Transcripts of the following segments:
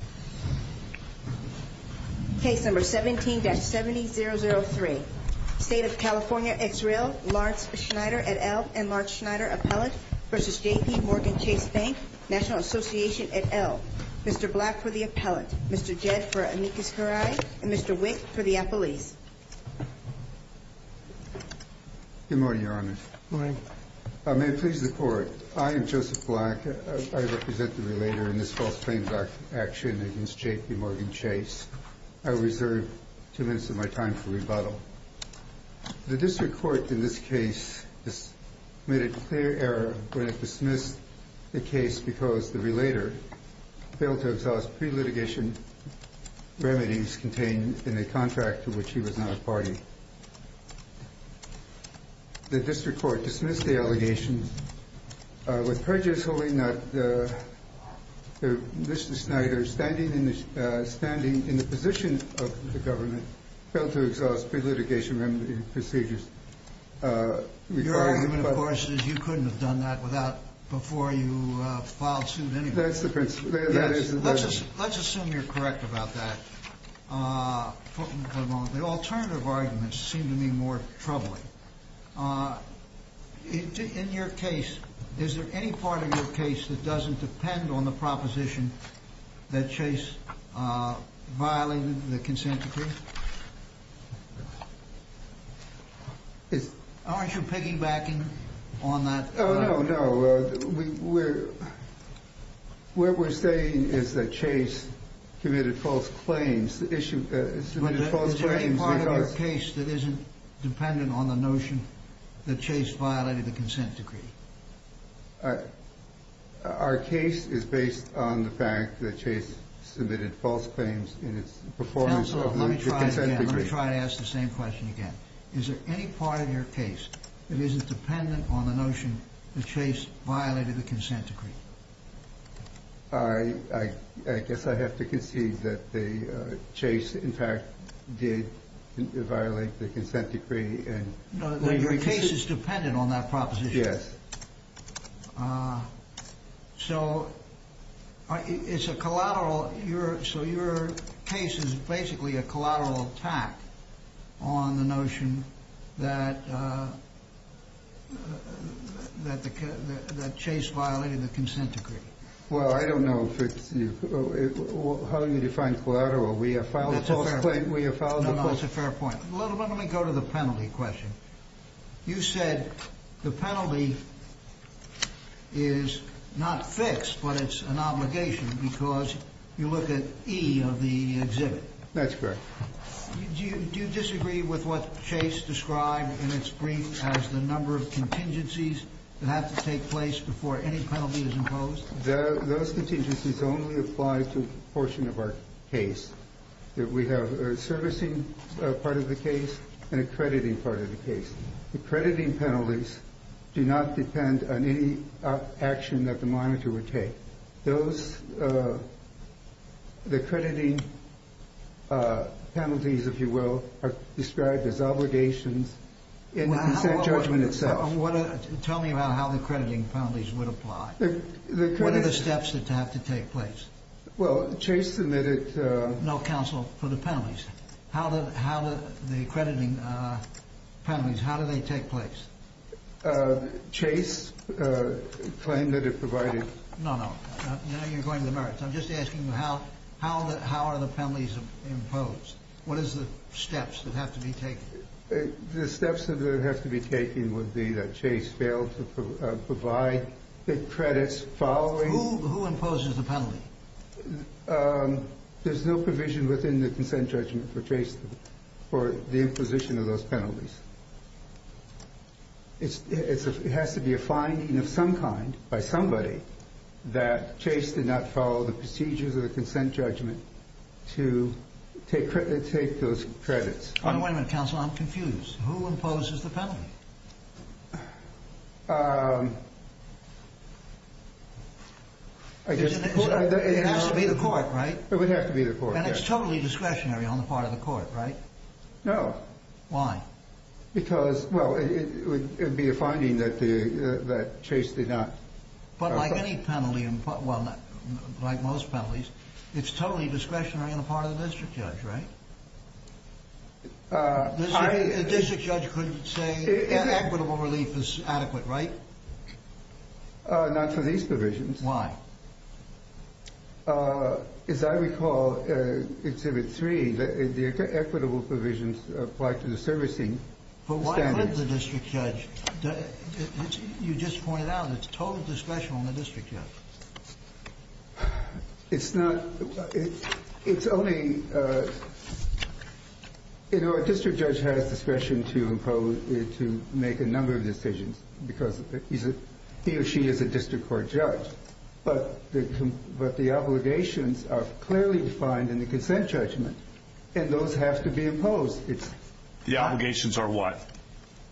et al. Mr. Black for the appellate, Mr. Jed for amicus curiae, and Mr. Wick for the appellees. Good morning, Your Honor. Good morning. May it please the Court, I am Joseph Black. I represent the relator in this false claims action. I am here to speak on behalf of the JPMorgan Chase Bank. I reserve two minutes of my time for rebuttal. The District Court in this case made a clear error when it dismissed the case because the relator failed to exhaust pre-litigation remedies contained in a contract to which he was not a party. The District Court in this case made a clear error when it dismissed the case because the relator failed to exhaust pre-litigation remedies contained in a contract to which he was not a party. The District Court in this case made a clear error when it dismissed the case because the relator failed to exhaust pre-litigation remedies contained in a contract to which he was not a party. the relator failed to exhaust pre-litigation remedies contained in a contract to which he was not a party. So your case is basically a collateral attack on the notion that Chase violated the consent decree. Well, I don't know how you define collateral. We have filed a false claim. No, no, it's a fair point. Let me go to the penalty question. You said the penalty is not fixed, but it's an obligation because you look at E of the exhibit. That's correct. Do you disagree with what Chase described in its brief as the number of contingencies that have to take place before any penalty is imposed? Those contingencies only apply to a portion of our case. We have a servicing part of the claim that the monitor would take. The crediting penalties, if you will, are described as obligations in the consent judgment itself. Tell me about how the crediting penalties would apply. What are the steps that have to take place? Well, Chase submitted... No counsel for the penalties. The crediting penalties, how do they take place? Chase claimed that it provided... No, no. You're going to the merits. I'm just asking how are the penalties imposed? What is the steps that have to be taken? The steps that have to be taken would be that Chase failed to provide the credits following... Who imposes the penalty? There's no provision within the consent judgment for Chase for the imposition of those penalties. It has to be a finding of some kind by somebody that Chase did not follow the procedures of the consent judgment to take those credits. Wait a minute, counsel. I'm confused. Who imposes the penalty? It has to be the court, right? It would have to be the court, yes. And it's totally discretionary on the part of the court, right? No. Why? Because, well, it would be a finding that Chase did not... But like any penalty, well, like most penalties, it's totally discretionary on the part of the district judge, right? The district judge could say that equitable relief is adequate, right? Not for these provisions. Why? As I recall in Exhibit 3, the equitable provisions apply to the servicing standards. But why would the district judge... You just pointed out, it's total discretion on the district judge. It's not... It's only... You know, a district judge has discretion to impose, to make a number of decisions because he or she is a district court judge. But the obligations are clearly defined in the consent judgment, and those have to be imposed. The obligations are what?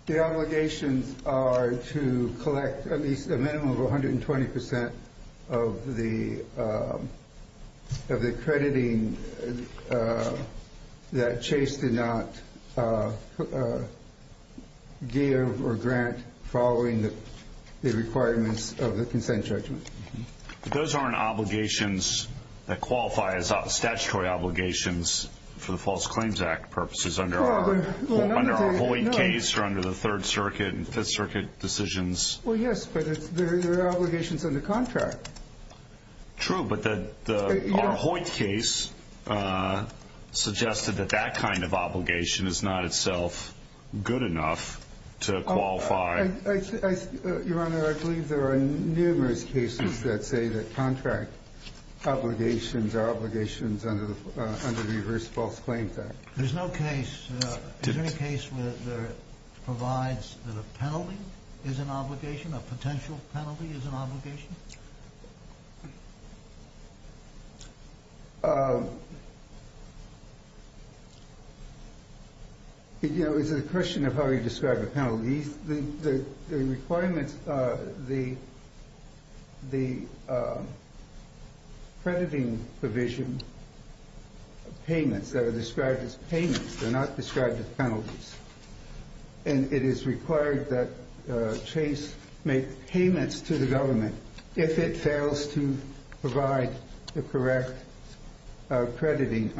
The obligations are to collect at least a minimum of 120% of the accrediting that Chase did not give or grant following the requirements of the consent judgment. But those aren't obligations that qualify as statutory obligations for the False Claims Act purposes under our Hoyt case or under the Third Circuit and Fifth Circuit decisions. Well, yes, but they're obligations under contract. True, but our Hoyt case suggested that that kind of obligation is not itself good enough to qualify. Your Honor, I believe there are numerous cases that say that contract obligations are obligations under the Reverse False Claims Act. There's no case. Is there any case where it provides that a penalty is an obligation, a potential penalty is an obligation? You know, it's a question of how you describe a penalty. The requirements, the accrediting provision payments that are described as payments, they're not described as penalties. And it is required that Chase make payments to the government if it fails to provide the correct accrediting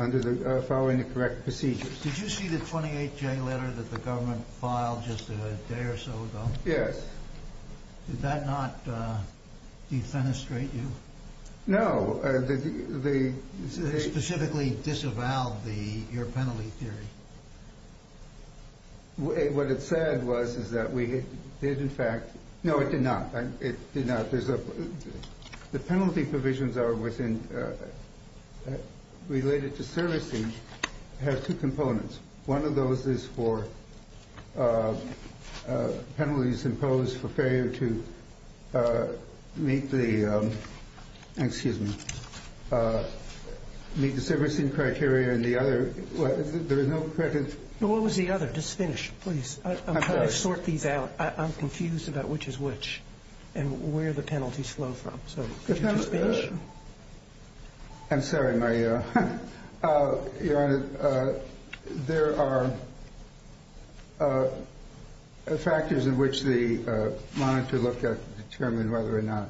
following the correct procedures. Did you see the 28-J letter that the government filed just a day or so ago? Yes. Did that not defenestrate you? No. Specifically disavowed your penalty theory? What it said was that we did in fact... No, it did not. It did not. The penalty provisions are within, related to servicing, have two components. One of those is for penalties imposed for failure to meet the, excuse me, meet the servicing criteria. And the other, there is no credit... What was the other? Just finish, please. I'm trying to sort these out. I'm confused about which is which and where the penalties flow from. So could you just finish? I'm sorry. Your Honor, there are factors in which the monitor looked at to determine whether or not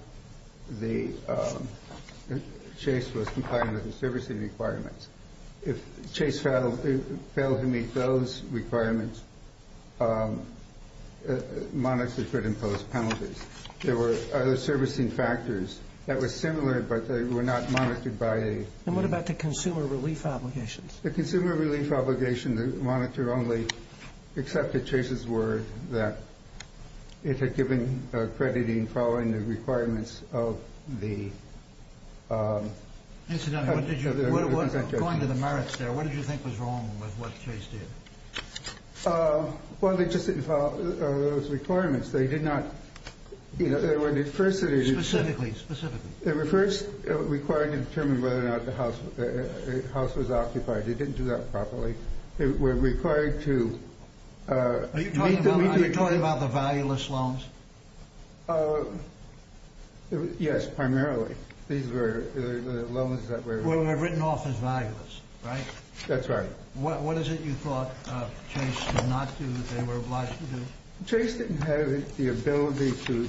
Chase was compliant with the servicing requirements. If Chase failed to meet those requirements, the monitor could impose penalties. There were other servicing factors that were similar, but they were not monitored by a... And what about the consumer relief obligations? The consumer relief obligation, the monitor only accepted Chase's word that it had given accrediting following the requirements of the... Incidentally, going to the merits there, what did you think was wrong with what Chase did? Well, they just didn't follow those requirements. They did not... Specifically, specifically. They were first required to determine whether or not the house was occupied. They didn't do that properly. They were required to... Are you talking about the valueless loans? Yes, primarily. These were the loans that were... Were written off as valueless, right? That's right. What is it you thought Chase did not do that they were obliged to do? Chase didn't have the ability to...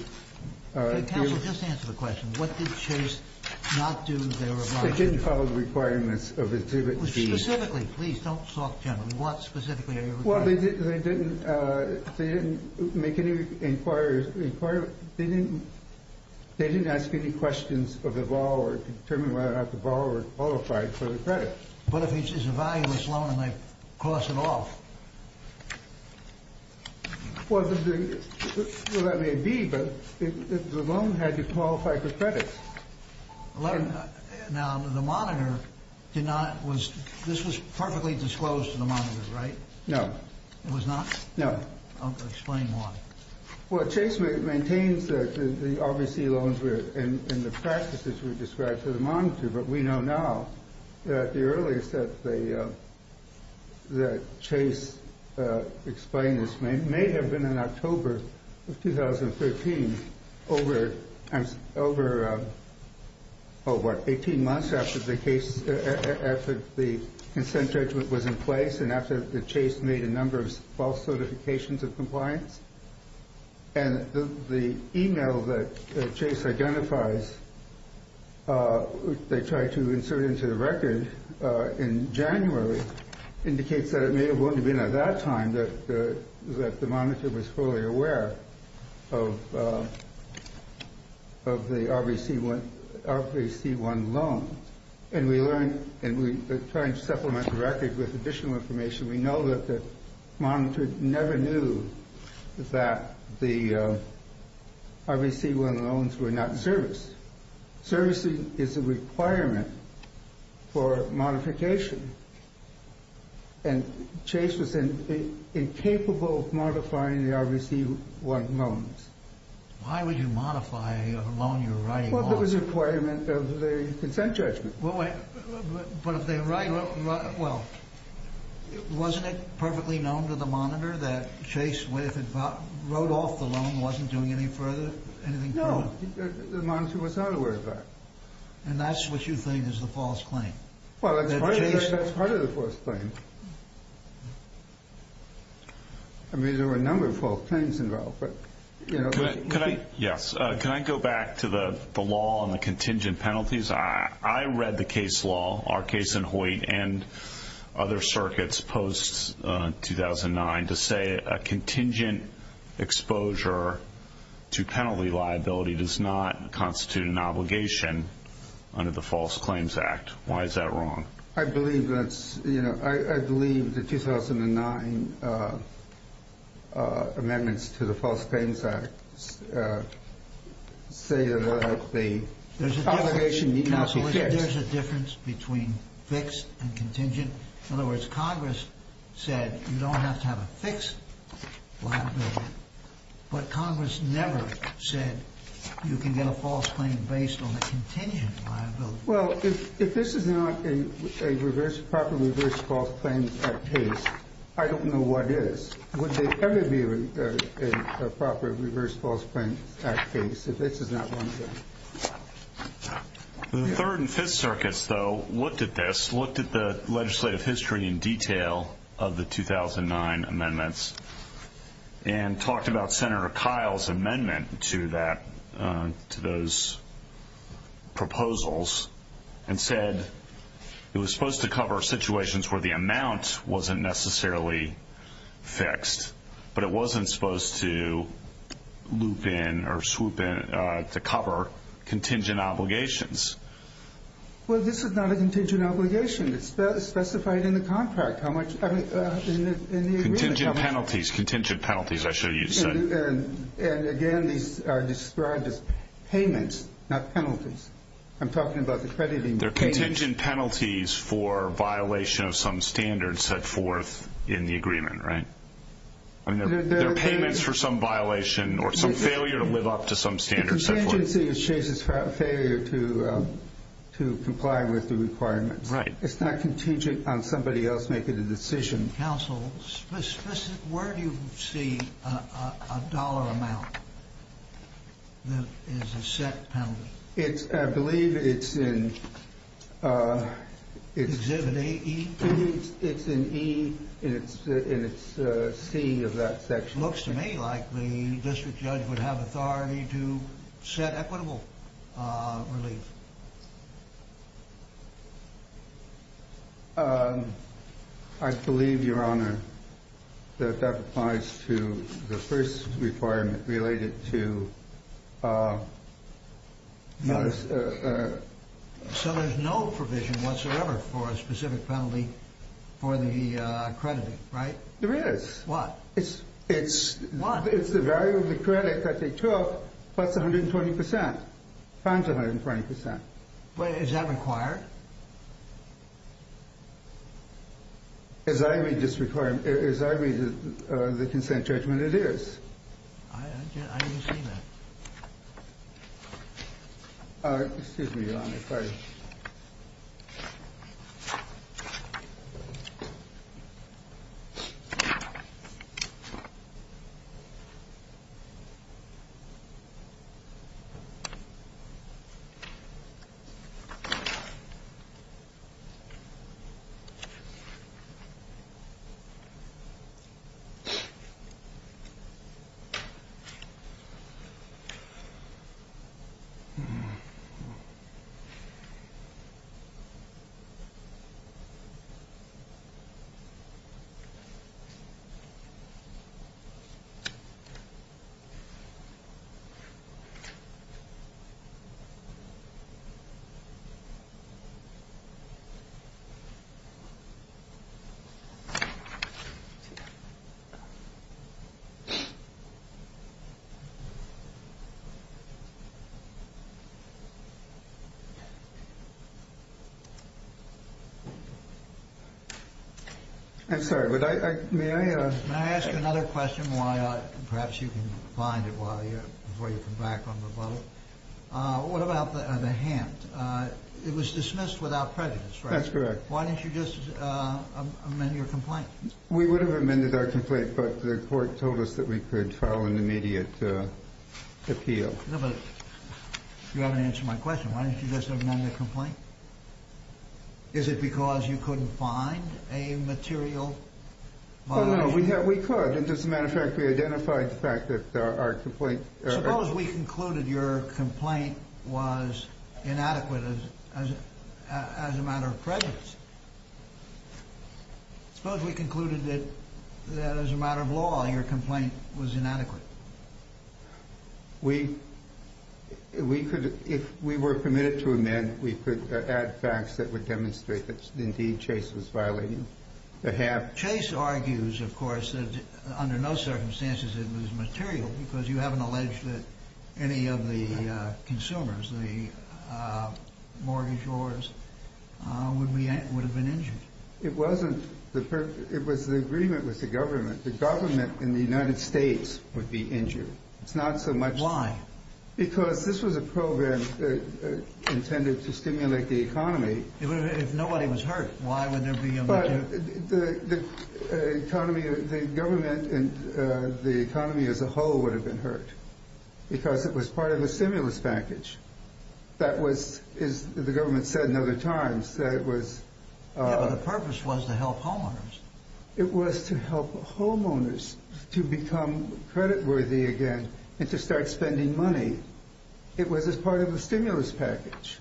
Counsel, just answer the question. What did Chase not do that they were obliged to do? They didn't follow the requirements of its... Specifically, please, don't talk generally. What specifically are you... Well, they didn't make any inquiries... They didn't... They didn't ask any questions of the borrower to determine whether or not the borrower qualified for the credit. But if it's a valueless loan and they cross it off? Well, that may be, but the loan had to qualify for credit. Now, the monitor did not... This was perfectly disclosed to the monitor, right? No. It was not? No. Explain why. Well, Chase maintains that the RBC loans were... And the practices were described to the monitor. But we know now that the earliest that they... That Chase explained this may have been in October of 2013. Over... Oh, what? 18 months after the case... After the consent judgment was in place and after the Chase made a number of false certifications of compliance? And the email that Chase identifies, they tried to insert into the record in January, indicates that it may have only been at that time that the monitor was fully aware of the RBC1 loan. And we learned... And we tried to supplement the record with additional information. We know that the monitor never knew that the RBC1 loans were not serviced. Servicing is a requirement for modification. And Chase was incapable of modifying the RBC1 loans. Why would you modify a loan you're writing on? Well, there was a requirement of the consent judgment. But if they write... Well, wasn't it perfectly known to the monitor that Chase, if it wrote off the loan, wasn't doing anything further? No, the monitor was not aware of that. And that's what you think is the false claim? Well, that's part of the false claim. I mean, there were a number of false claims involved, but... Can I... Yes. Can I go back to the law and the contingent penalties? I read the case law, our case in Hoyt and other circuits post-2009, to say a contingent exposure to penalty liability does not constitute an obligation under the False Claims Act. Why is that wrong? I believe that's... You know, I believe the 2009 amendments to the False Claims Act say that the obligation needs to be fixed. There's a difference between fixed and contingent. In other words, Congress said you don't have to have a fixed liability, but Congress never said you can get a false claim based on a contingent liability. Well, if this is not a properly reversed False Claims Act case, I don't know what is. Would there ever be a properly reversed False Claims Act case if this is not one of them? The Third and Fifth Circuits, though, looked at this, looked at the legislative history in detail of the 2009 amendments, and talked about Senator Kyle's amendment to those proposals and said it was supposed to cover situations where the amount wasn't necessarily fixed, but it wasn't supposed to loop in or swoop in to cover contingent obligations. Well, this is not a contingent obligation. It's specified in the contract how much... Contingent penalties, contingent penalties, I should have said. And again, these are described as payments, not penalties. I'm talking about the crediting... They're contingent penalties for violation of some standards set forth in the agreement, right? I mean, they're payments for some violation or some failure to live up to some standards set forth. The contingency is Chase's failure to comply with the requirements. Right. It's not contingent on somebody else making the decision. Counsel, where do you see a dollar amount that is a set penalty? I believe it's in... Exhibit A, E? It's in E, and it's C of that section. Looks to me like the district judge would have authority to set equitable relief. I believe, Your Honor, that that applies to the first requirement related to... So there's no provision whatsoever for a specific penalty for the crediting, right? There is. What? It's... What? It's the value of the credit that they took plus 120%, times 120%. Wait, is that required? As I read this requirement, as I read the consent judgment, it is. I didn't see that. Excuse me, Your Honor, if I... Excuse me. I'm sorry. May I... May I ask you another question while I... Perhaps you can find it while you're... Before you come back on the button. What about the hand? It was dismissed without prejudice, right? That's correct. Why didn't you just amend your complaint? We would have amended our complaint, but the court told us that we could file an immediate appeal. No, but you haven't answered my question. Why didn't you just amend the complaint? Is it because you couldn't find a material violation? Well, no, we could. As a matter of fact, we identified the fact that our complaint... Suppose we concluded your complaint was inadequate as a matter of prejudice. Suppose we concluded that, as a matter of law, your complaint was inadequate. We could... If we were permitted to amend, we could add facts that would demonstrate that, indeed, Chase was violating the hand. Chase argues, of course, that under no circumstances it was material, because you haven't alleged that any of the consumers, the mortgagors, would have been injured. It wasn't. It was the agreement with the government. The government in the United States would be injured. It's not so much... Why? Because this was a program intended to stimulate the economy. If nobody was hurt, why would there be a material... The economy... The government and the economy as a whole would have been hurt, because it was part of a stimulus package. That was, as the government said in other times, that it was... Yeah, but the purpose was to help homeowners. It was to help homeowners to become creditworthy again and to start spending money. It was as part of a stimulus package.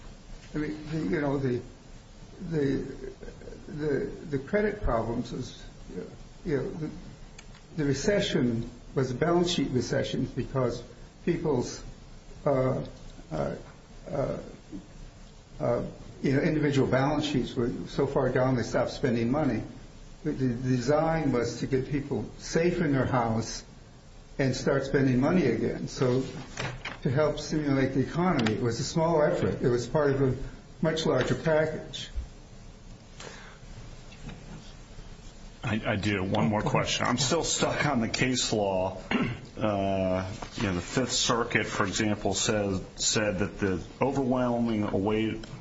I mean, you know, the credit problems, the recession was a balance sheet recession, because people's individual balance sheets were so far down they stopped spending money. The design was to get people safe in their house and start spending money again. So to help stimulate the economy was a small effort. It was part of a much larger package. I do. One more question. I'm still stuck on the case law. You know, the Fifth Circuit, for example, said that the overwhelming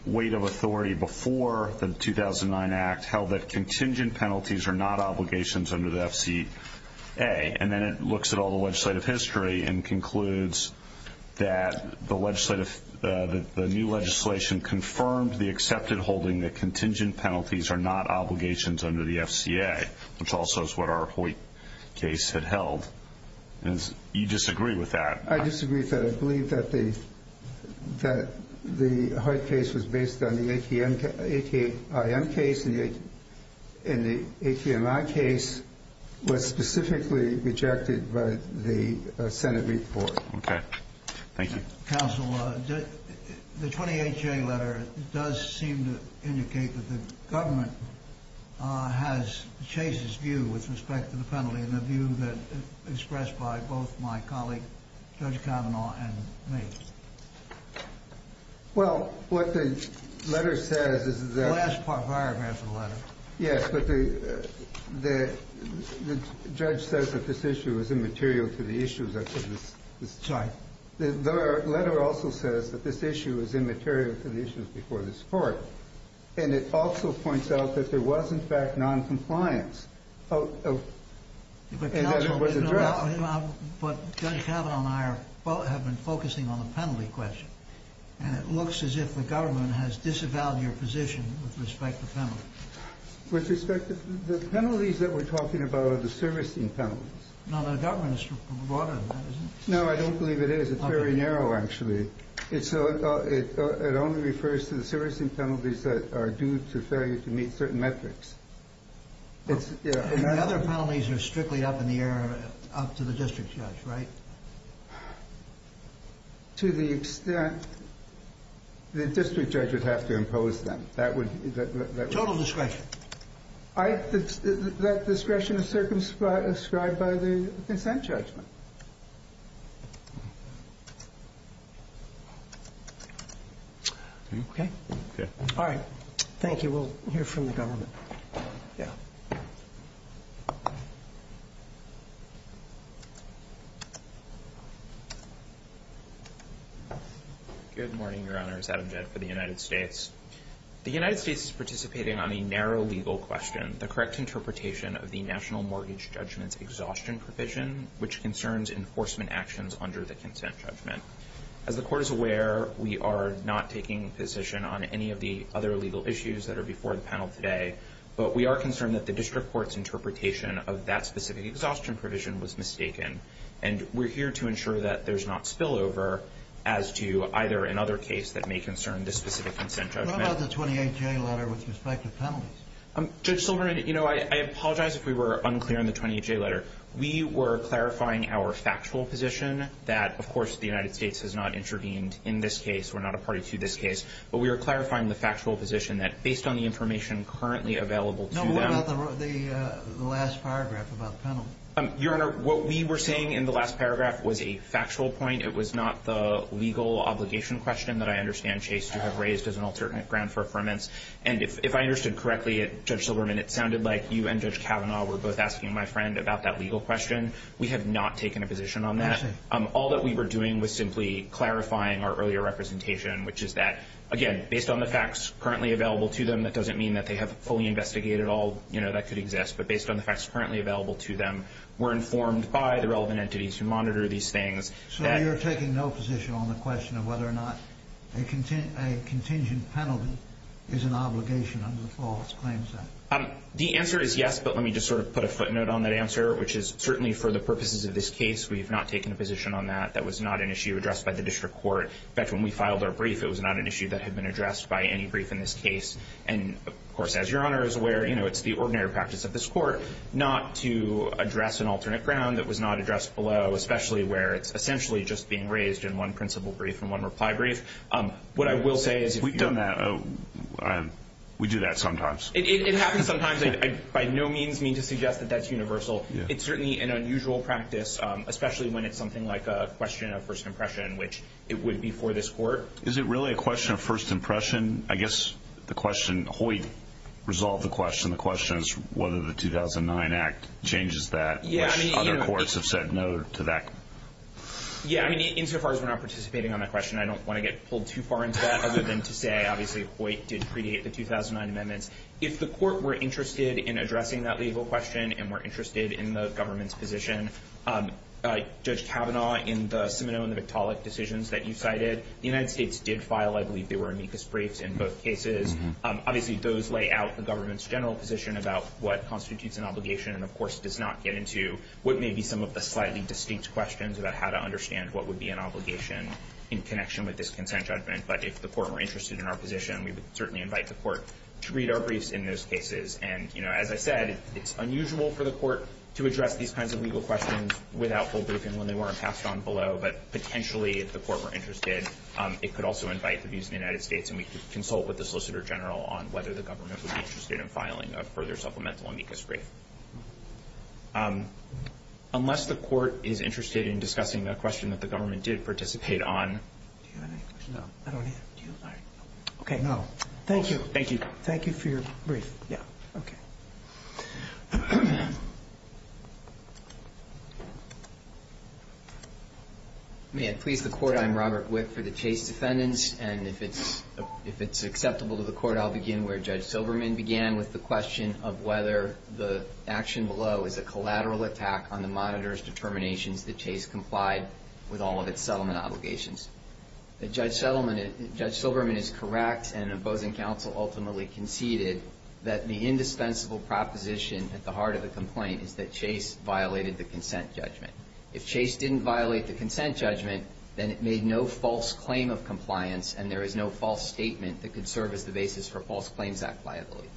weight of authority before the 2009 Act held that contingent penalties are not obligations under the FCA. And then it looks at all the legislative history and concludes that the new legislation confirmed the accepted holding that contingent penalties are not obligations under the FCA, which also is what our Hoyt case had held. And you disagree with that. I disagree with that. I believe that the Hoyt case was based on the ATIM case, and the ATIM case was specifically rejected by the Senate report. Okay. Thank you. Counsel, the 20HA letter does seem to indicate that the government has changed its view with respect to the penalty, and the view expressed by both my colleague, Judge Kavanaugh, and me. Well, what the letter says is that Yes, but the judge says that this issue is immaterial to the issues. I said this. Sorry. The letter also says that this issue is immaterial to the issues before this Court, and it also points out that there was, in fact, noncompliance, and that it was addressed. But Judge Kavanaugh and I have been focusing on the penalty question, and it looks as if the government has disavowed your position with respect to penalties. With respect to the penalties that we're talking about are the servicing penalties. No, the government is broader than that, isn't it? No, I don't believe it is. It's very narrow, actually. It only refers to the servicing penalties that are due to failure to meet certain metrics. And the other penalties are strictly up in the air, up to the district judge, right? To the extent the district judge would have to impose them. Total discretion. That discretion is circumscribed by the consent judgment. Are you okay? Yeah. All right. Thank you. We'll hear from the government. Yeah. Good morning, Your Honors. Adam Jett for the United States. The United States is participating on a narrow legal question, the correct interpretation of the National Mortgage Judgment's exhaustion provision, which concerns enforcement actions under the consent judgment. As the Court is aware, we are not taking a position on any of the other legal issues that are before the panel today, but we are concerned that the district court's interpretation of that specific exhaustion provision was mistaken, and we're here to ensure that there's not spillover as to either another case that may concern this specific consent judgment. What about the 28J letter with respect to penalties? Judge Silverman, you know, I apologize if we were unclear on the 28J letter. We were clarifying our factual position that, of course, the United States has not intervened in this case. We're not a party to this case. But we were clarifying the factual position that, based on the information currently available to them. No, what about the last paragraph about penalties? Your Honor, what we were saying in the last paragraph was a factual point. It was not the legal obligation question that I understand, Chase, to have raised as an alternate ground for affirmance. And if I understood correctly, Judge Silverman, it sounded like you and Judge Kavanaugh were both asking my friend about that legal question. We have not taken a position on that. All that we were doing was simply clarifying our earlier representation, which is that, again, based on the facts currently available to them, that doesn't mean that they have fully investigated all that could exist. But based on the facts currently available to them, we're informed by the relevant entities who monitor these things. So you're taking no position on the question of whether or not a contingent penalty is an obligation under the Flawless Claims Act? The answer is yes. But let me just sort of put a footnote on that answer, which is certainly for the purposes of this case, we have not taken a position on that. That was not an issue addressed by the district court. In fact, when we filed our brief, it was not an issue that had been addressed by any brief in this case. And, of course, as Your Honor is aware, you know, it's the ordinary practice of this court not to address an alternate ground that was not addressed below, especially where it's essentially just being raised in one principle brief and one reply brief. What I will say is if you're not – We've done that. We do that sometimes. It happens sometimes. I by no means mean to suggest that that's universal. It's certainly an unusual practice, especially when it's something like a question of first impression, which it would be for this court. Is it really a question of first impression? I guess the question – Hoyt resolved the question. The question is whether the 2009 Act changes that, which other courts have said no to that. Yeah, I mean, insofar as we're not participating on that question, I don't want to get pulled too far into that other than to say, obviously, Hoyt did predate the 2009 amendments. If the court were interested in addressing that legal question and were interested in the government's position, Judge Kavanaugh, in the Siminoe and the Victaulic decisions that you cited, the United States did file, I believe, they were amicus briefs in both cases. Obviously, those lay out the government's general position about what constitutes an obligation and, of course, does not get into what may be some of the slightly distinct questions about how to understand what would be an obligation in connection with this consent judgment. But if the court were interested in our position, we would certainly invite the court to read our briefs in those cases. And, you know, as I said, it's unusual for the court to address these kinds of legal questions without full briefing when they weren't passed on below. But potentially, if the court were interested, it could also invite the views of the United States and we could consult with the Solicitor General on whether the government would be interested in filing a further supplemental amicus brief. Unless the court is interested in discussing a question that the government did participate on. Do you have any questions? No. Okay, no. Thank you. Thank you. Thank you for your brief. Yeah. Okay. May I please the court? I'm Robert Wick for the Chase defendants. And if it's acceptable to the court, I'll begin where Judge Silberman began with the question of whether the action below is a collateral attack on the monitor's determinations that Chase complied with all of its settlement obligations. Judge Silberman is correct, and opposing counsel ultimately conceded that the indispensable property of the case at the heart of the complaint is that Chase violated the consent judgment. If Chase didn't violate the consent judgment, then it made no false claim of compliance and there is no false statement that could serve as the basis for False Claims Act liability.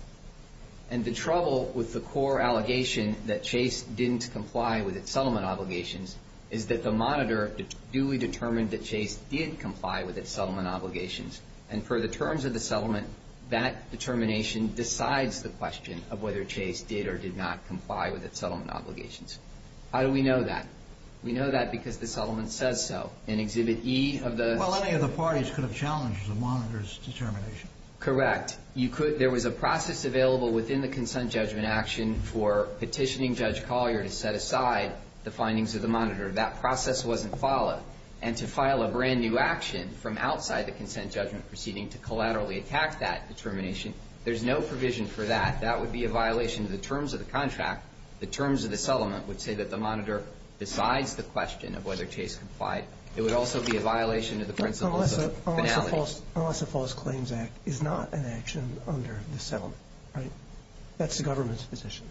And the trouble with the core allegation that Chase didn't comply with its settlement obligations is that the monitor duly determined that Chase did comply with its settlement obligations. And for the terms of the settlement, that determination decides the question of whether Chase did or did not comply with its settlement obligations. How do we know that? We know that because the settlement says so. In Exhibit E of the... Well, any of the parties could have challenged the monitor's determination. Correct. There was a process available within the consent judgment action for petitioning Judge Collier to set aside the findings of the monitor. That process wasn't followed. And to file a brand new action from outside the consent judgment proceeding to collaterally attack that determination, there's no provision for that. That would be a violation of the terms of the contract. The terms of the settlement would say that the monitor decides the question of whether Chase complied. It would also be a violation of the principles of finality. Unless a False Claims Act is not an action under the settlement, right? That's the government's position.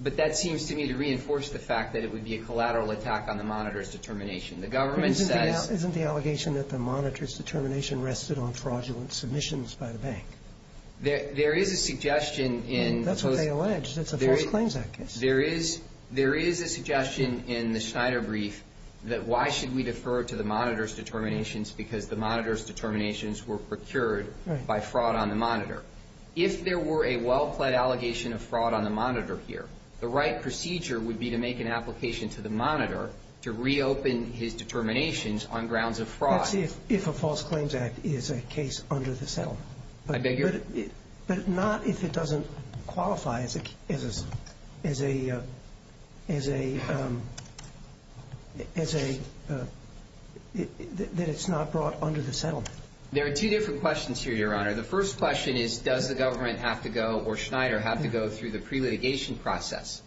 But that seems to me to reinforce the fact that it would be a collateral attack on the monitor's determination. The government says... Isn't the allegation that the monitor's determination rested on fraudulent submissions by the bank? There is a suggestion in... That's what they allege. It's a False Claims Act case. There is a suggestion in the Schneider brief that why should we defer to the monitor's determinations because the monitor's determinations were procured by fraud on the monitor. If there were a well-plaid allegation of fraud on the monitor here, the right procedure would be to make an application to the monitor to reopen his determinations on grounds of fraud. Let's see if a False Claims Act is a case under the settlement. I beg your... But not if it doesn't qualify as a... as a... as a... that it's not brought under the settlement. There are two different questions here, Your Honor. The first question is does the government have to go or Schneider have to go through the pre-litigation process?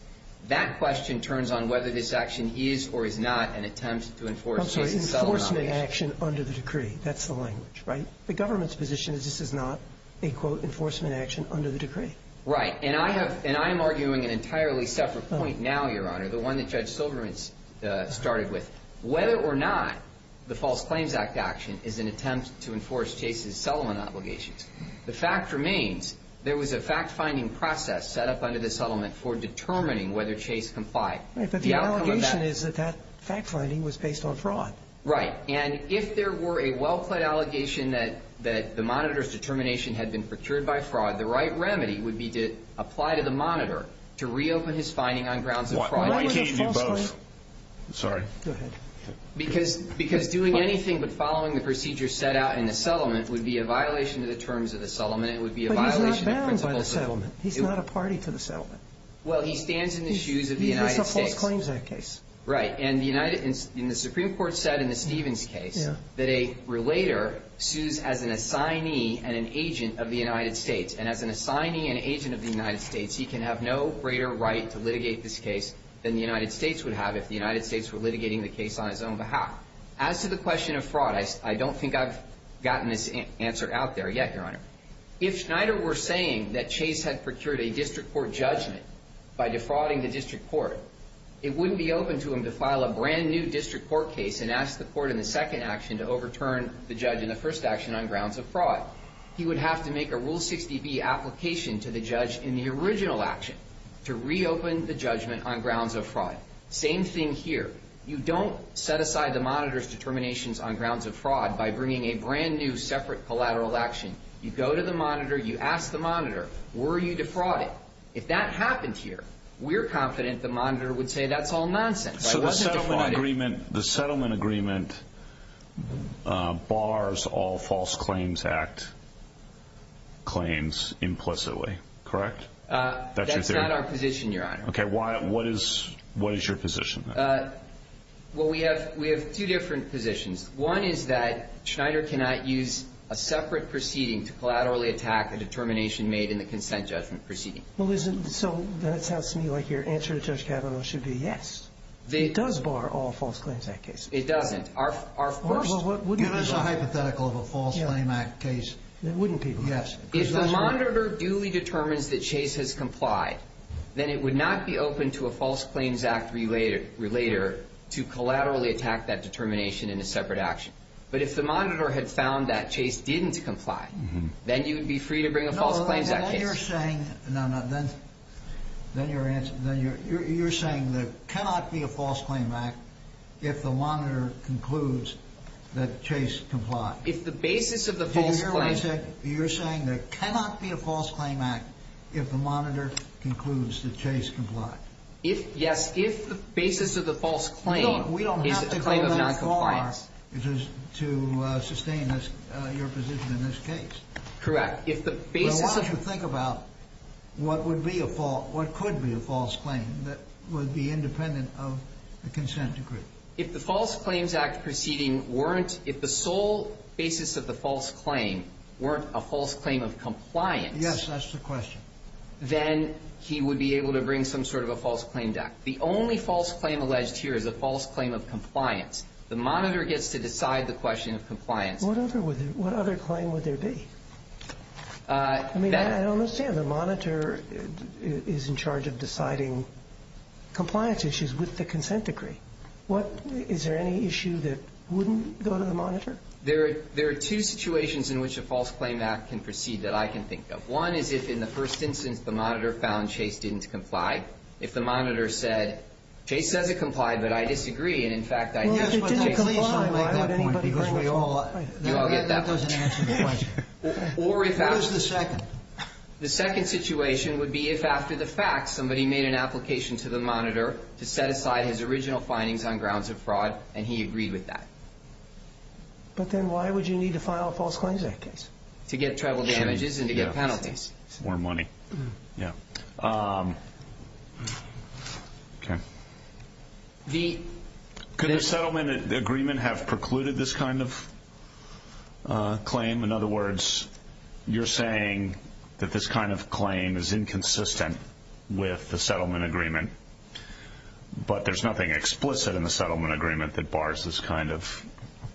That question turns on whether this action is or is not an attempt to enforce... I'm sorry, enforcement action under the decree. That's the language, right? The government's position is this is not a, quote, enforcement action under the decree. Right. And I have... and I am arguing an entirely separate point now, Your Honor, the one that Judge Silverman started with. Whether or not the False Claims Act action is an attempt to enforce Chase's settlement obligations, the fact remains there was a fact-finding process set up under the settlement for determining whether Chase complied. Right. But the allegation is that that fact-finding was based on fraud. Right. And if there were a well-plaid allegation that the monitor's determination had been procured by fraud, the right remedy would be to apply to the monitor to reopen his finding on grounds of fraud. Why can't you do both? Sorry. Go ahead. Because doing anything but following the procedure set out in the settlement would be a violation It would be a violation of the principles of the settlement. But he's not bound by the settlement. He's not a party to the settlement. Well, he stands in the shoes of the United States. He makes the False Claims Act case. Right. And the Supreme Court said in the Stevens case that a relator sues as an assignee and an agent of the United States. And as an assignee and agent of the United States, he can have no greater right to litigate this case than the United States would have if the United States were litigating the case on his own behalf. As to the question of fraud, I don't think I've gotten this answer out there yet, Your Honor. If Schneider were saying that Chase had procured a district court judgment by defrauding the district court, it wouldn't be open to him to file a brand-new district court case and ask the court in the second action to overturn the judge in the first action on grounds of fraud. He would have to make a Rule 60B application to the judge in the original action to reopen the judgment on grounds of fraud. Same thing here. You don't set aside the monitor's determinations on grounds of fraud by bringing a brand-new separate collateral action. You go to the monitor. You ask the monitor, Were you defrauding? If that happened here, we're confident the monitor would say, That's all nonsense. I wasn't defrauding. So the settlement agreement bars all false claims act claims implicitly, correct? That's not our position, Your Honor. Okay. What is your position? Well, we have two different positions. One is that Schneider cannot use a separate proceeding to collaterally attack the determination made in the consent judgment proceeding. So that sounds to me like your answer to Judge Kavanaugh should be yes. It does bar all false claims act cases. It doesn't. Of course. Give us a hypothetical of a false claims act case. Wouldn't people? Yes. If the monitor duly determines that Chase has complied, then it would not be open to a false claims act relater to collaterally attack that determination in a separate action. But if the monitor had found that Chase didn't comply, then you would be free to bring a false claims act case. Then you're saying there cannot be a false claims act if the monitor concludes that Chase complied. If the basis of the false claims act. Did you hear what I said? You're saying there cannot be a false claims act if the monitor concludes that Chase complied. Yes. If the basis of the false claim is a claim of noncompliance. We don't have to go that far to sustain your position in this case. Correct. If the basis of. Well, why don't you think about what could be a false claim that would be independent of the consent decree. If the false claims act proceeding weren't. If the sole basis of the false claim weren't a false claim of compliance. Yes, that's the question. Then he would be able to bring some sort of a false claim back. The only false claim alleged here is a false claim of compliance. The monitor gets to decide the question of compliance. What other claim would there be? I mean, I don't understand. The monitor is in charge of deciding compliance issues with the consent decree. What? Is there any issue that wouldn't go to the monitor? There are two situations in which a false claim act can proceed that I can think of. One is if, in the first instance, the monitor found Chase didn't comply. If the monitor said, Chase says it complied, but I disagree. And, in fact, I think Chase. Well, if it didn't comply, I don't have a point. Because we all. I'll get that one. Or if. What is the second? The second situation would be if, after the fact, somebody made an application to the monitor to set aside his original findings on grounds of fraud, and he agreed with that. But then why would you need to file a false claim in that case? To get travel damages and to get penalties. Or money. Yeah. The. Could the settlement agreement have precluded this kind of claim? In other words, you're saying that this kind of claim is inconsistent with the settlement agreement. But there's nothing explicit in the settlement agreement that bars this kind of claim.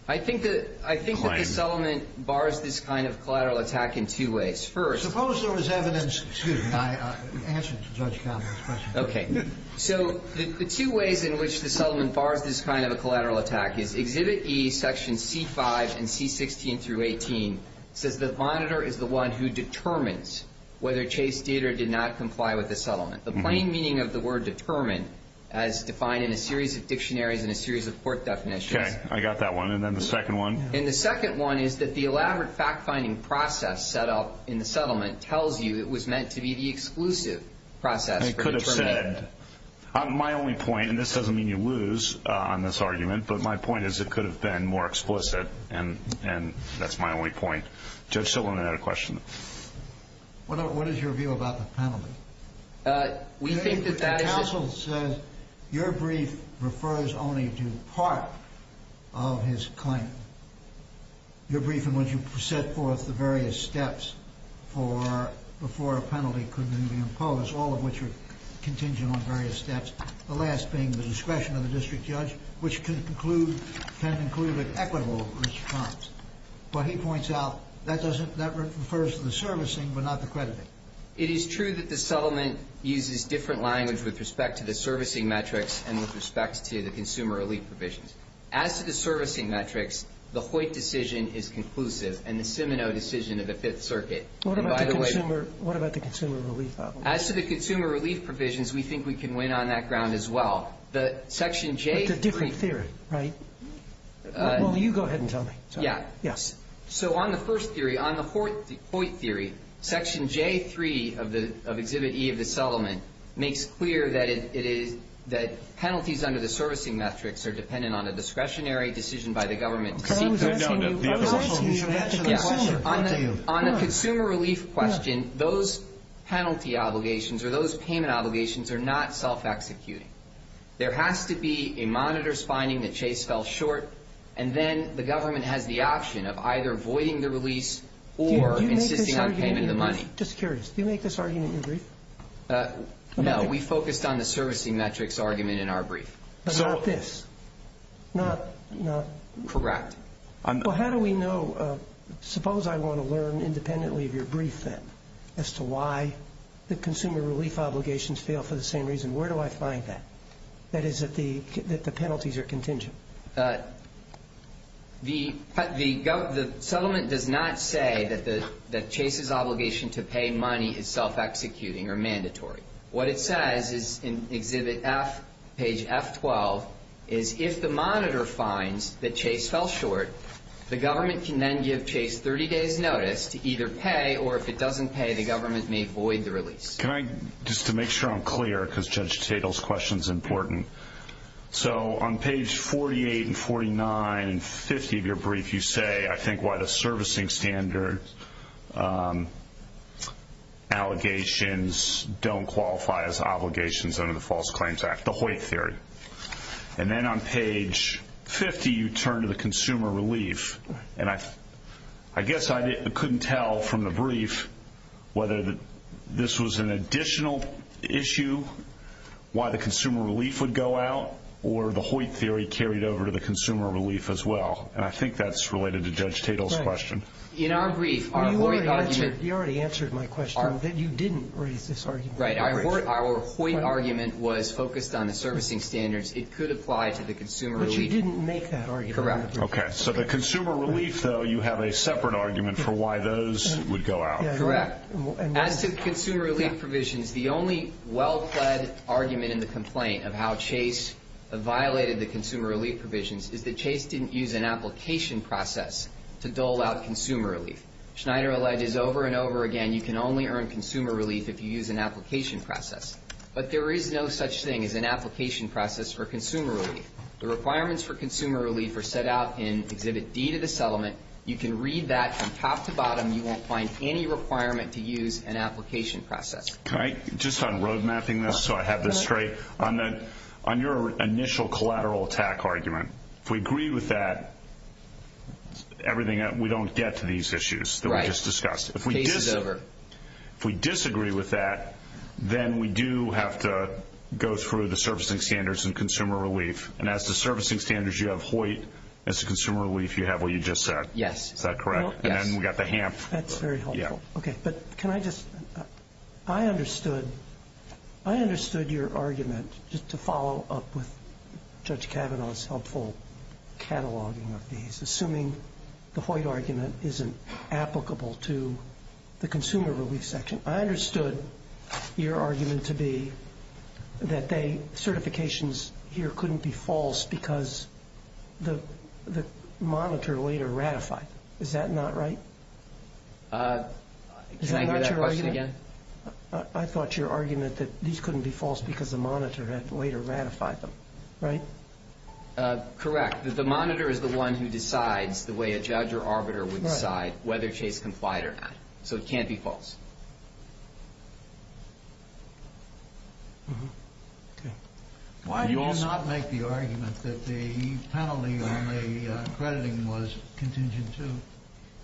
I think that the settlement bars this kind of collateral attack in two ways. First. Suppose there was evidence. Excuse me. Answer to Judge Conner's question. Okay. So the two ways in which the settlement bars this kind of a collateral attack is Exhibit E. Section C5 and C16 through 18 says the monitor is the one who determines whether Chase Dieter did not comply with the settlement. The plain meaning of the word determine as defined in a series of dictionaries and a series of court definitions. Okay. I got that one. And then the second one. And the second one is that the elaborate fact finding process set up in the settlement tells you it was meant to be the exclusive process. And it could have said. My only point. And this doesn't mean you lose on this argument. But my point is it could have been more explicit. And that's my only point. Judge Silliman had a question. What is your view about the penalty? We think that that is. The counsel says your brief refers only to part of his claim. Your brief in which you set forth the various steps for before a penalty could be imposed, all of which are contingent on various steps. The last being the discretion of the district judge, which can conclude, can conclude an equitable response. But he points out that doesn't, that refers to the servicing but not the crediting. It is true that the settlement uses different language with respect to the servicing metrics and with respect to the consumer elite provisions. As to the servicing metrics, the Hoyt decision is conclusive. And the Seminoe decision of the Fifth Circuit. What about the consumer? What about the consumer relief? As to the consumer relief provisions, we think we can win on that ground as well. The Section J. It's a different theory, right? Well, you go ahead and tell me. Yeah. Yes. So on the first theory, on the Hoyt theory, Section J. of Exhibit E of the settlement makes clear that it is, that penalties under the servicing metrics are dependent on a discretionary decision by the government. On a consumer relief question, those penalty obligations or those payment obligations are not self-executing. There has to be a monitor's finding that Chase fell short. And then the government has the option of either voiding the release or insisting on payment of the money. Just curious. Do you make this argument in your brief? No. We focused on the servicing metrics argument in our brief. But not this? Not, not. Correct. Well, how do we know? Suppose I want to learn independently of your brief, then, as to why the consumer relief obligations fail for the same reason. Where do I find that? That is, that the penalties are contingent. The settlement does not say that Chase's obligation to pay money is self-executing or mandatory. What it says is in Exhibit F, page F12, is if the monitor finds that Chase fell short, the government can then give Chase 30 days' notice to either pay, or if it doesn't pay, the government may void the release. Can I, just to make sure I'm clear, because Judge Tatel's question is important. So on page 48 and 49 and 50 of your brief, you say, I think, why the servicing standard allegations don't qualify as obligations under the False Claims Act, the Hoyt theory. And then on page 50, you turn to the consumer relief. And I guess I couldn't tell from the brief whether this was an additional issue, why the consumer relief would go out, or the Hoyt theory carried over to the consumer relief as well. And I think that's related to Judge Tatel's question. In our brief, our Hoyt argument – You already answered my question. You didn't raise this argument. Right. Our Hoyt argument was focused on the servicing standards. It could apply to the consumer relief. But you didn't make that argument. Correct. Okay. So the consumer relief, though, you have a separate argument for why those would go out. Correct. As to consumer relief provisions, the only well-pled argument in the complaint of how Chase violated the consumer relief provisions is that Chase didn't use an application process to dole out consumer relief. Schneider alleged over and over again, you can only earn consumer relief if you use an application process. But there is no such thing as an application process for consumer relief. The requirements for consumer relief are set out in Exhibit D to the settlement. You can read that from top to bottom. You won't find any requirement to use an application process. Just on road mapping this so I have this straight, on your initial collateral attack argument, if we agree with that, we don't get to these issues that we just discussed. Right. Case is over. If we disagree with that, then we do have to go through the servicing standards and consumer relief. And as to servicing standards, you have Hoyt. As to consumer relief, you have what you just said. Yes. Is that correct? Yes. And then we've got the HAMP. That's very helpful. Yeah. Okay. But can I just, I understood your argument, just to follow up with Judge Kavanaugh's helpful cataloging of these, assuming the Hoyt argument isn't applicable to the consumer relief section. I understood your argument to be that certifications here couldn't be false because the monitor later ratified them. Is that not right? Can I hear that question again? I thought your argument that these couldn't be false because the monitor had later ratified them. Right? Correct. The fact that the monitor is the one who decides the way a judge or arbiter would decide whether Chase complied or not. So it can't be false. Why do you not make the argument that the penalty on the crediting was contingent to?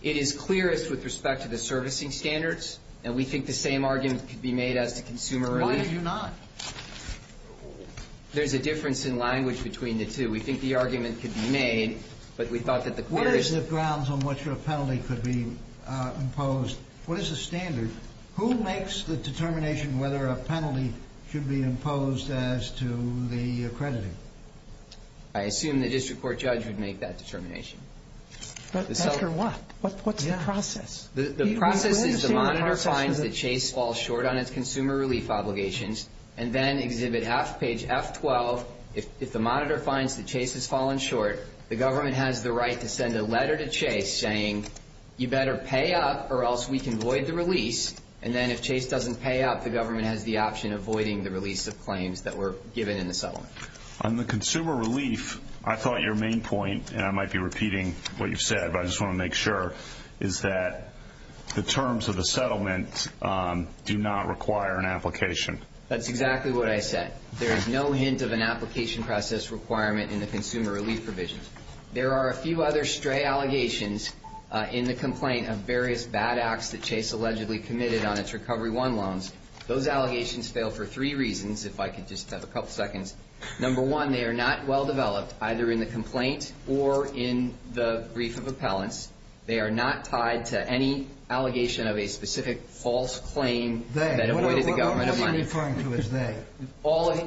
It is clearest with respect to the servicing standards. And we think the same argument could be made as to consumer relief. Why did you not? There's a difference in language between the two. We think the argument could be made, but we thought that the clearest. What is the grounds on which a penalty could be imposed? What is the standard? Who makes the determination whether a penalty should be imposed as to the crediting? I assume the district court judge would make that determination. But after what? What's the process? The process is the monitor finds that Chase falls short on its consumer relief obligations and then exhibit half page F12. If the monitor finds that Chase has fallen short, the government has the right to send a letter to Chase saying, you better pay up or else we can void the release. And then if Chase doesn't pay up, the government has the option of voiding the release of claims that were given in the settlement. On the consumer relief, I thought your main point, and I might be repeating what you've said, but I just want to make sure, is that the terms of the settlement do not require an application. That's exactly what I said. There is no hint of an application process requirement in the consumer relief provisions. There are a few other stray allegations in the complaint of various bad acts that Chase allegedly committed on its Recovery I loans. Those allegations fail for three reasons, if I could just have a couple seconds. Number one, they are not well developed, either in the complaint or in the brief of appellants. They are not tied to any allegation of a specific false claim that avoided the government of money. I'm referring to his name.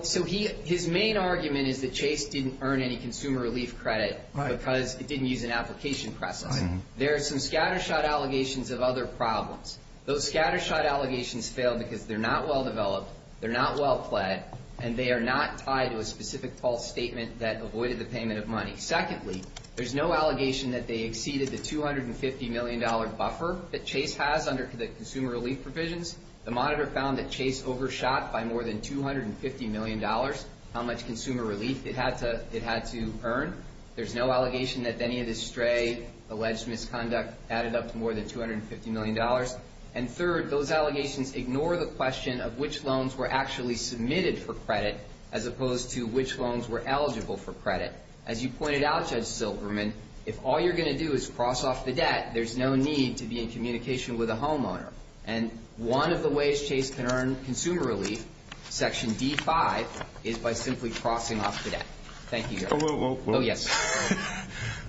So his main argument is that Chase didn't earn any consumer relief credit because it didn't use an application process. There are some scattershot allegations of other problems. Those scattershot allegations fail because they're not well developed, they're not well-pled, and they are not tied to a specific false statement that avoided the payment of money. Secondly, there's no allegation that they exceeded the $250 million buffer that Chase has under the consumer relief provisions. The monitor found that Chase overshot by more than $250 million how much consumer relief it had to earn. There's no allegation that any of this stray alleged misconduct added up to more than $250 million. And third, those allegations ignore the question of which loans were actually submitted for credit as opposed to which loans were eligible for credit. As you pointed out, Judge Silberman, if all you're going to do is cross off the debt, there's no need to be in communication with a homeowner. And one of the ways Chase can earn consumer relief, Section D5, is by simply crossing off the debt. Thank you, Judge. Oh, yes.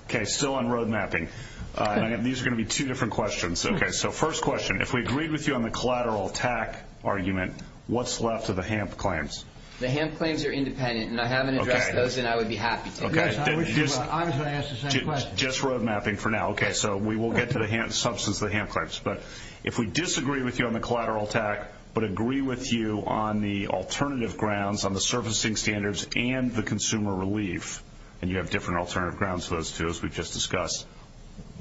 Okay, still on road mapping. These are going to be two different questions. So first question, if we agreed with you on the collateral attack argument, what's left of the HAMP claims? The HAMP claims are independent, and I haven't addressed those, and I would be happy to. Yes, I was going to ask the same question. Just road mapping for now. So we will get to the substance of the HAMP claims. But if we disagree with you on the collateral attack but agree with you on the alternative grounds, on the servicing standards and the consumer relief, and you have different alternative grounds for those two, as we've just discussed,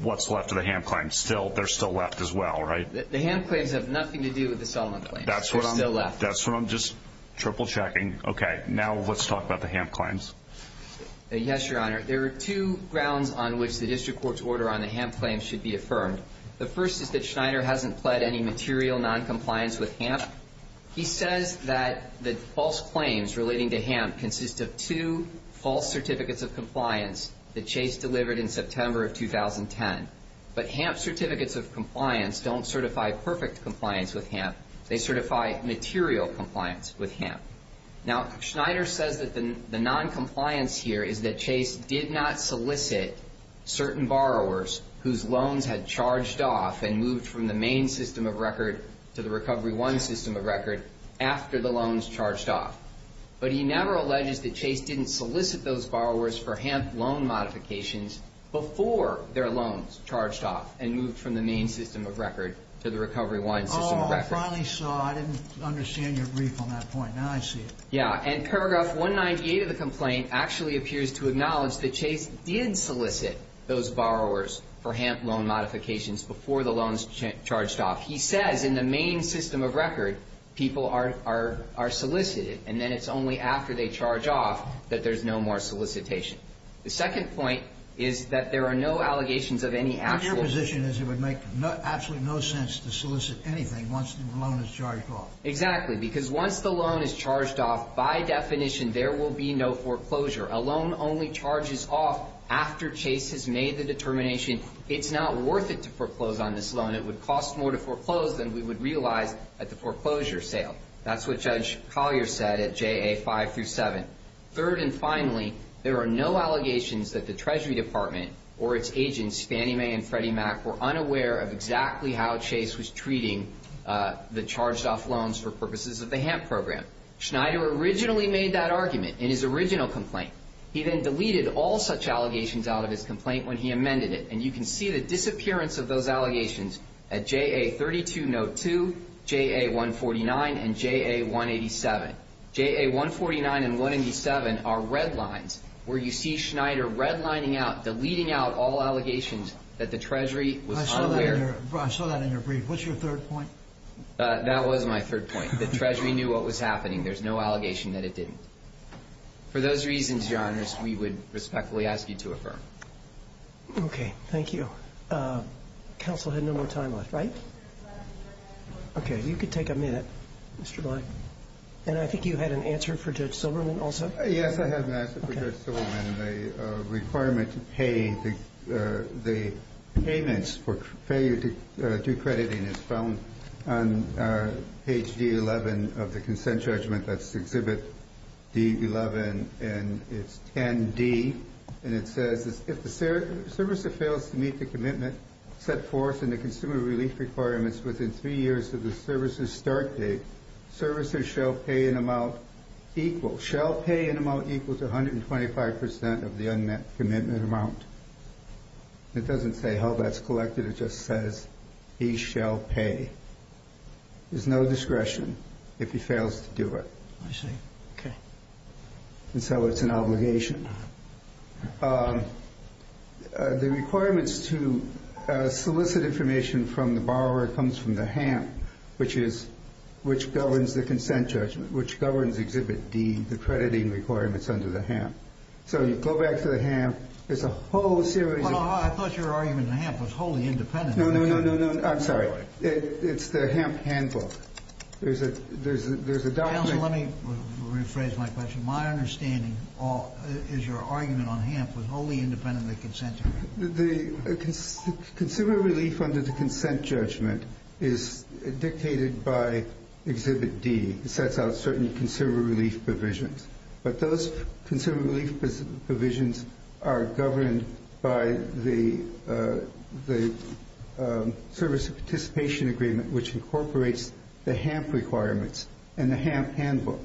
what's left of the HAMP claims? They're still left as well, right? The HAMP claims have nothing to do with the Solomon claims. They're still left. That's what I'm just triple-checking. Okay, now let's talk about the HAMP claims. Yes, Your Honor. There are two grounds on which the district court's order on the HAMP claims should be affirmed. The first is that Schneider hasn't pled any material noncompliance with HAMP. He says that the false claims relating to HAMP consist of two false certificates of compliance that Chase delivered in September of 2010. But HAMP certificates of compliance don't certify perfect compliance with HAMP. They certify material compliance with HAMP. Now, Schneider says that the noncompliance here is that Chase did not solicit certain borrowers whose loans had charged off and moved from the main system of record to the Recovery 1 system of record after the loans charged off. But he never alleges that Chase didn't solicit those borrowers for HAMP loan modifications before their loans charged off and moved from the main system of record to the Recovery 1 system of record. I finally saw. I didn't understand your brief on that point. Now I see it. Yeah, and paragraph 198 of the complaint actually appears to acknowledge that Chase did solicit those borrowers for HAMP loan modifications before the loans charged off. He says in the main system of record, people are solicited, and then it's only after they charge off that there's no more solicitation. The second point is that there are no allegations of any actual My position is it would make absolutely no sense to solicit anything once the loan is charged off. Exactly, because once the loan is charged off, by definition, there will be no foreclosure. A loan only charges off after Chase has made the determination it's not worth it to foreclose on this loan. It would cost more to foreclose than we would realize at the foreclosure sale. That's what Judge Collier said at JA 5 through 7. Third and finally, there are no allegations that the Treasury Department or its agents, Fannie Mae and Freddie Mac, were unaware of exactly how Chase was treating the charged off loans for purposes of the HAMP program. Schneider originally made that argument in his original complaint. He then deleted all such allegations out of his complaint when he amended it, and you can see the disappearance of those allegations at JA 32 Note 2, JA 149, and JA 187. JA 149 and 187 are red lines where you see Schneider redlining out, deleting out all allegations that the Treasury was unaware. I saw that in your brief. What's your third point? That was my third point. The Treasury knew what was happening. There's no allegation that it didn't. For those reasons, Your Honor, we would respectfully ask you to affirm. Okay, thank you. Counsel had no more time left, right? Okay, you can take a minute, Mr. Lai. And I think you had an answer for Judge Silberman also? Yes, I have an answer for Judge Silberman. The requirement to pay the payments for failure to do crediting is found on page D11 of the consent judgment. That's Exhibit D11, and it's 10D, and it says, if the servicer fails to meet the commitment set forth in the consumer relief requirements within three years of the servicer's start date, servicer shall pay an amount equal, shall pay an amount equal to 125 percent of the unmet commitment amount. It doesn't say how that's collected. It just says he shall pay. There's no discretion if he fails to do it. I see. Okay. And so it's an obligation. The requirements to solicit information from the borrower comes from the HAMP, which governs the consent judgment, which governs Exhibit D, the crediting requirements under the HAMP. So you go back to the HAMP, there's a whole series of- Well, I thought your argument in the HAMP was wholly independent. No, no, no, no, no. I'm sorry. It's the HAMP handbook. There's a document- Counsel, let me rephrase my question. My understanding is your argument on HAMP was wholly independent of the consent judgment. The consumer relief under the consent judgment is dictated by Exhibit D. It sets out certain consumer relief provisions. But those consumer relief provisions are governed by the service participation agreement, which incorporates the HAMP requirements and the HAMP handbook.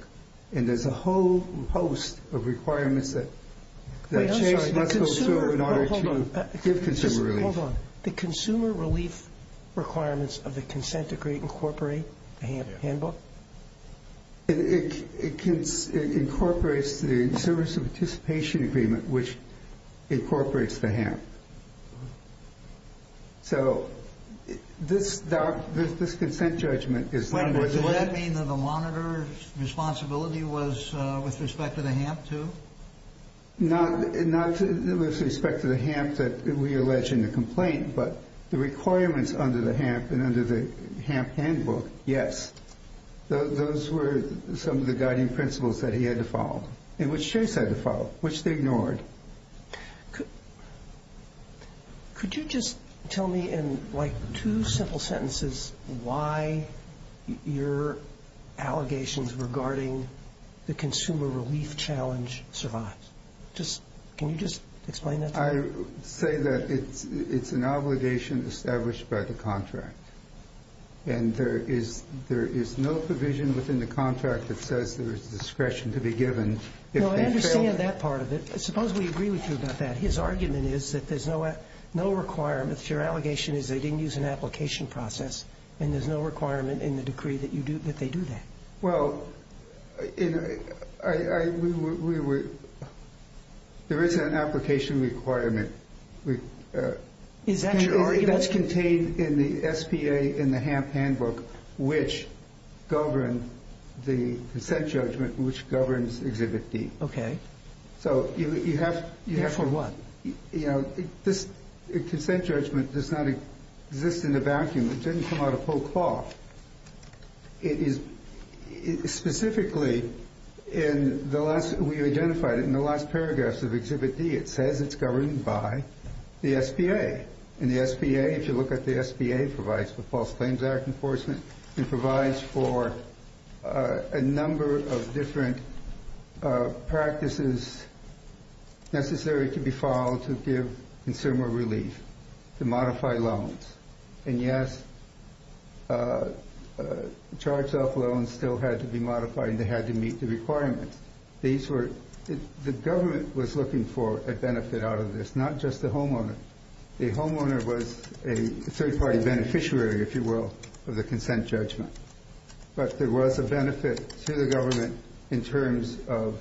And there's a whole host of requirements that- Wait, I'm sorry. The consumer- Hold on. Just hold on. The consumer relief requirements of the consent agreement incorporate the HAMP handbook? It incorporates the service participation agreement, which incorporates the HAMP. So this consent judgment is- Wait, does that mean that the monitor's responsibility was with respect to the HAMP, too? Not with respect to the HAMP that we allege in the complaint, but the requirements under the HAMP and under the HAMP handbook, yes. Those were some of the guiding principles that he had to follow, and which Chase had to follow, which they ignored. Could you just tell me in, like, two simple sentences why your allegations regarding the consumer relief challenge survives? Just, can you just explain that to me? I say that it's an obligation established by the contract. And there is no provision within the contract that says there is discretion to be given. No, I understand that part of it. Suppose we agree with you about that. His argument is that there's no requirement. Your allegation is they didn't use an application process, and there's no requirement in the decree that they do that. Well, there is an application requirement. Is that your argument? That's contained in the SPA and the HAMP handbook, which govern the consent judgment, which governs Exhibit D. Okay. So you have to be careful. For what? You know, this consent judgment does not exist in a vacuum. It didn't come out of pokeball. It is specifically in the last, we identified it in the last paragraphs of Exhibit D. It says it's governed by the SPA. If you look at the SPA, it provides for False Claims Act enforcement. It provides for a number of different practices necessary to be followed to give consumer relief, to modify loans. And, yes, charged-off loans still had to be modified, and they had to meet the requirements. The government was looking for a benefit out of this, not just the homeowner. The homeowner was a third-party beneficiary, if you will, of the consent judgment. But there was a benefit to the government in terms of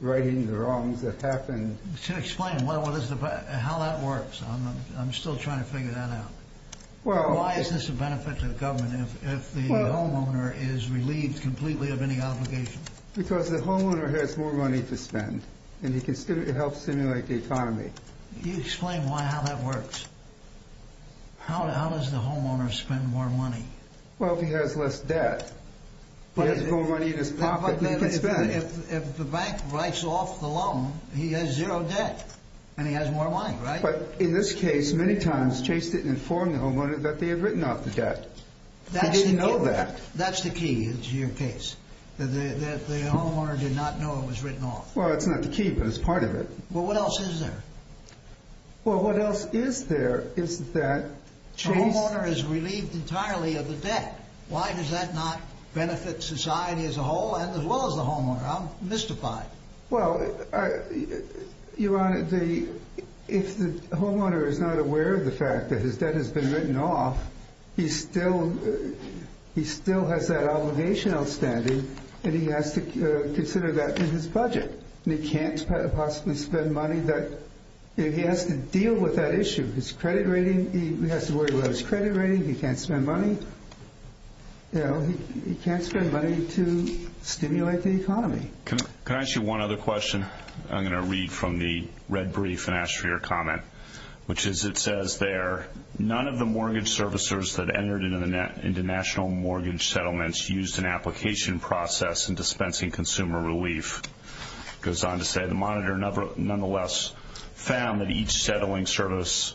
righting the wrongs that happened. Explain how that works. I'm still trying to figure that out. Why is this a benefit to the government if the homeowner is relieved completely of any obligation? Because the homeowner has more money to spend, and he can help stimulate the economy. You explain how that works. How does the homeowner spend more money? Well, if he has less debt. He has more money in his pocket than he can spend. If the bank writes off the loan, he has zero debt, and he has more money, right? But in this case, many times Chase didn't inform the homeowner that they had written off the debt. He didn't know that. That's the key to your case, that the homeowner did not know it was written off. Well, it's not the key, but it's part of it. Well, what else is there? Well, what else is there is that Chase— The homeowner is relieved entirely of the debt. Why does that not benefit society as a whole and as well as the homeowner? I'm mystified. Well, Your Honor, if the homeowner is not aware of the fact that his debt has been written off, he still has that obligation outstanding, and he has to consider that in his budget. He can't possibly spend money that—he has to deal with that issue. His credit rating—he has to worry about his credit rating. He can't spend money. He can't spend money to stimulate the economy. Can I ask you one other question? I'm going to read from the red brief and ask for your comment, which is it says there, that entered into national mortgage settlements used an application process in dispensing consumer relief. It goes on to say the monitor nonetheless found that each settling service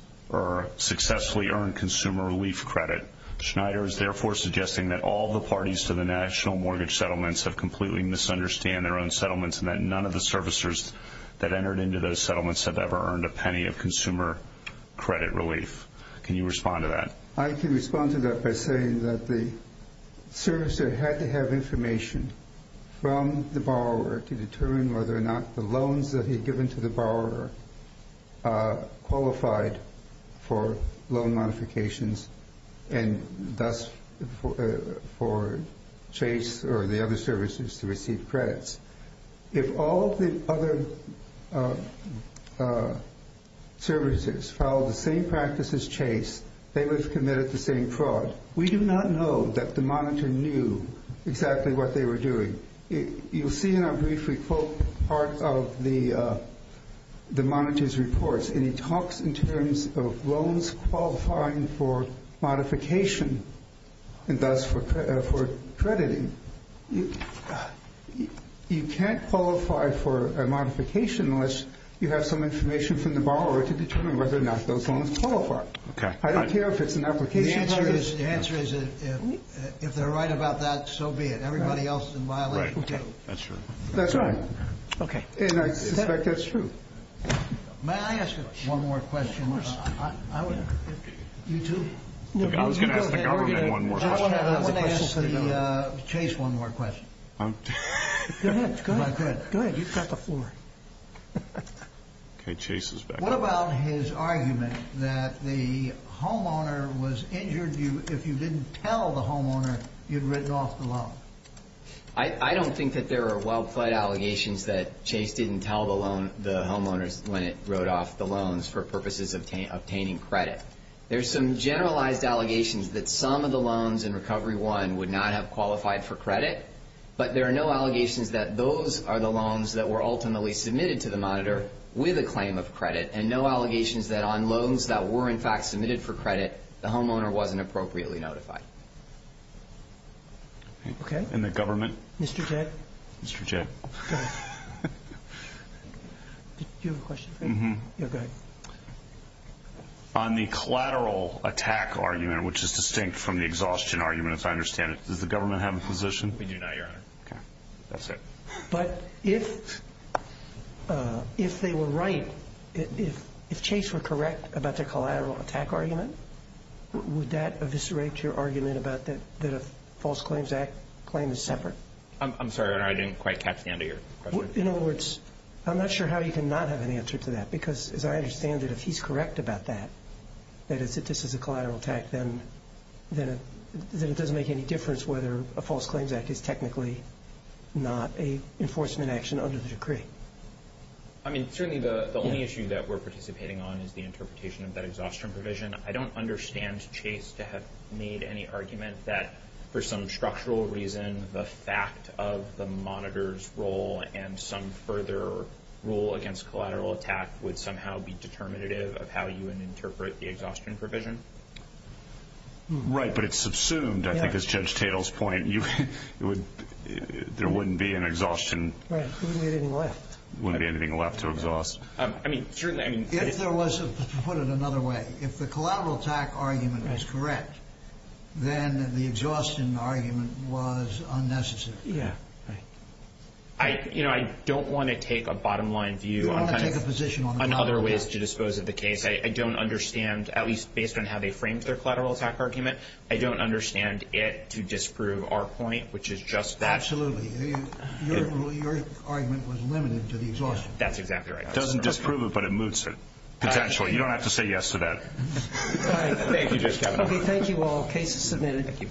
successfully earned consumer relief credit. Schneider is therefore suggesting that all the parties to the national mortgage settlements have completely misunderstood their own settlements and that none of the servicers that entered into those settlements have ever earned a penny of consumer credit relief. Can you respond to that? I can respond to that by saying that the servicer had to have information from the borrower to determine whether or not the loans that he had given to the borrower qualified for loan modifications and thus for Chase or the other services to receive credits. If all the other services followed the same practices as Chase, they would have committed the same fraud. We do not know that the monitor knew exactly what they were doing. You'll see in our brief we quote part of the monitor's reports, and he talks in terms of loans qualifying for modification and thus for crediting. You can't qualify for a modification unless you have some information from the borrower to determine whether or not those loans qualify. I don't care if it's an application. The answer is if they're right about that, so be it. Everybody else is in violation too. That's right. And I suspect that's true. May I ask one more question? I was going to ask the government one more question. I want to ask Chase one more question. Go ahead. Go ahead. You've got the floor. Okay, Chase is back. What about his argument that the homeowner was injured if you didn't tell the homeowner you'd written off the loan? I don't think that there are well-pled allegations that Chase didn't tell the homeowners when it wrote off the loans for purposes of obtaining credit. There's some generalized allegations that some of the loans in Recovery 1 would not have qualified for credit, but there are no allegations that those are the loans that were ultimately submitted to the monitor with a claim of credit and no allegations that on loans that were in fact submitted for credit, the homeowner wasn't appropriately notified. Okay. And the government? Mr. J. Mr. J. Go ahead. Do you have a question for me? Mm-hmm. Go ahead. On the collateral attack argument, which is distinct from the exhaustion argument, as I understand it, does the government have a position? We do not, Your Honor. Okay. That's it. But if they were right, if Chase were correct about their collateral attack argument, would that eviscerate your argument about that a false claim is separate? I'm sorry, Your Honor. I didn't quite catch the end of your question. In other words, I'm not sure how you can not have an answer to that because, as I understand it, if he's correct about that, that this is a collateral attack, then it doesn't make any difference whether a false claims act is technically not an enforcement action under the decree. I mean, certainly the only issue that we're participating on is the interpretation of that exhaustion provision. I don't understand Chase to have made any argument that, for some structural reason, the fact of the monitor's role and some further role against collateral attack would somehow be determinative of how you would interpret the exhaustion provision. Right. But it's subsumed, I think, as Judge Tatel's point. There wouldn't be an exhaustion. Right. There wouldn't be anything left. There wouldn't be anything left to exhaust. I mean, certainly, I mean, if there was, to put it another way, if the collateral attack argument is correct, then the exhaustion argument was unnecessary. Yeah. Right. You know, I don't want to take a bottom-line view on kind of other ways to dispose of the case. I don't understand, at least based on how they framed their collateral attack argument, I don't understand it to disprove our point, which is just that. Absolutely. Your argument was limited to the exhaustion. That's exactly right. It doesn't disprove it, but it moots it, potentially. You don't have to say yes to that. Thank you, Judge Kavanaugh. Okay, thank you all. Case is submitted.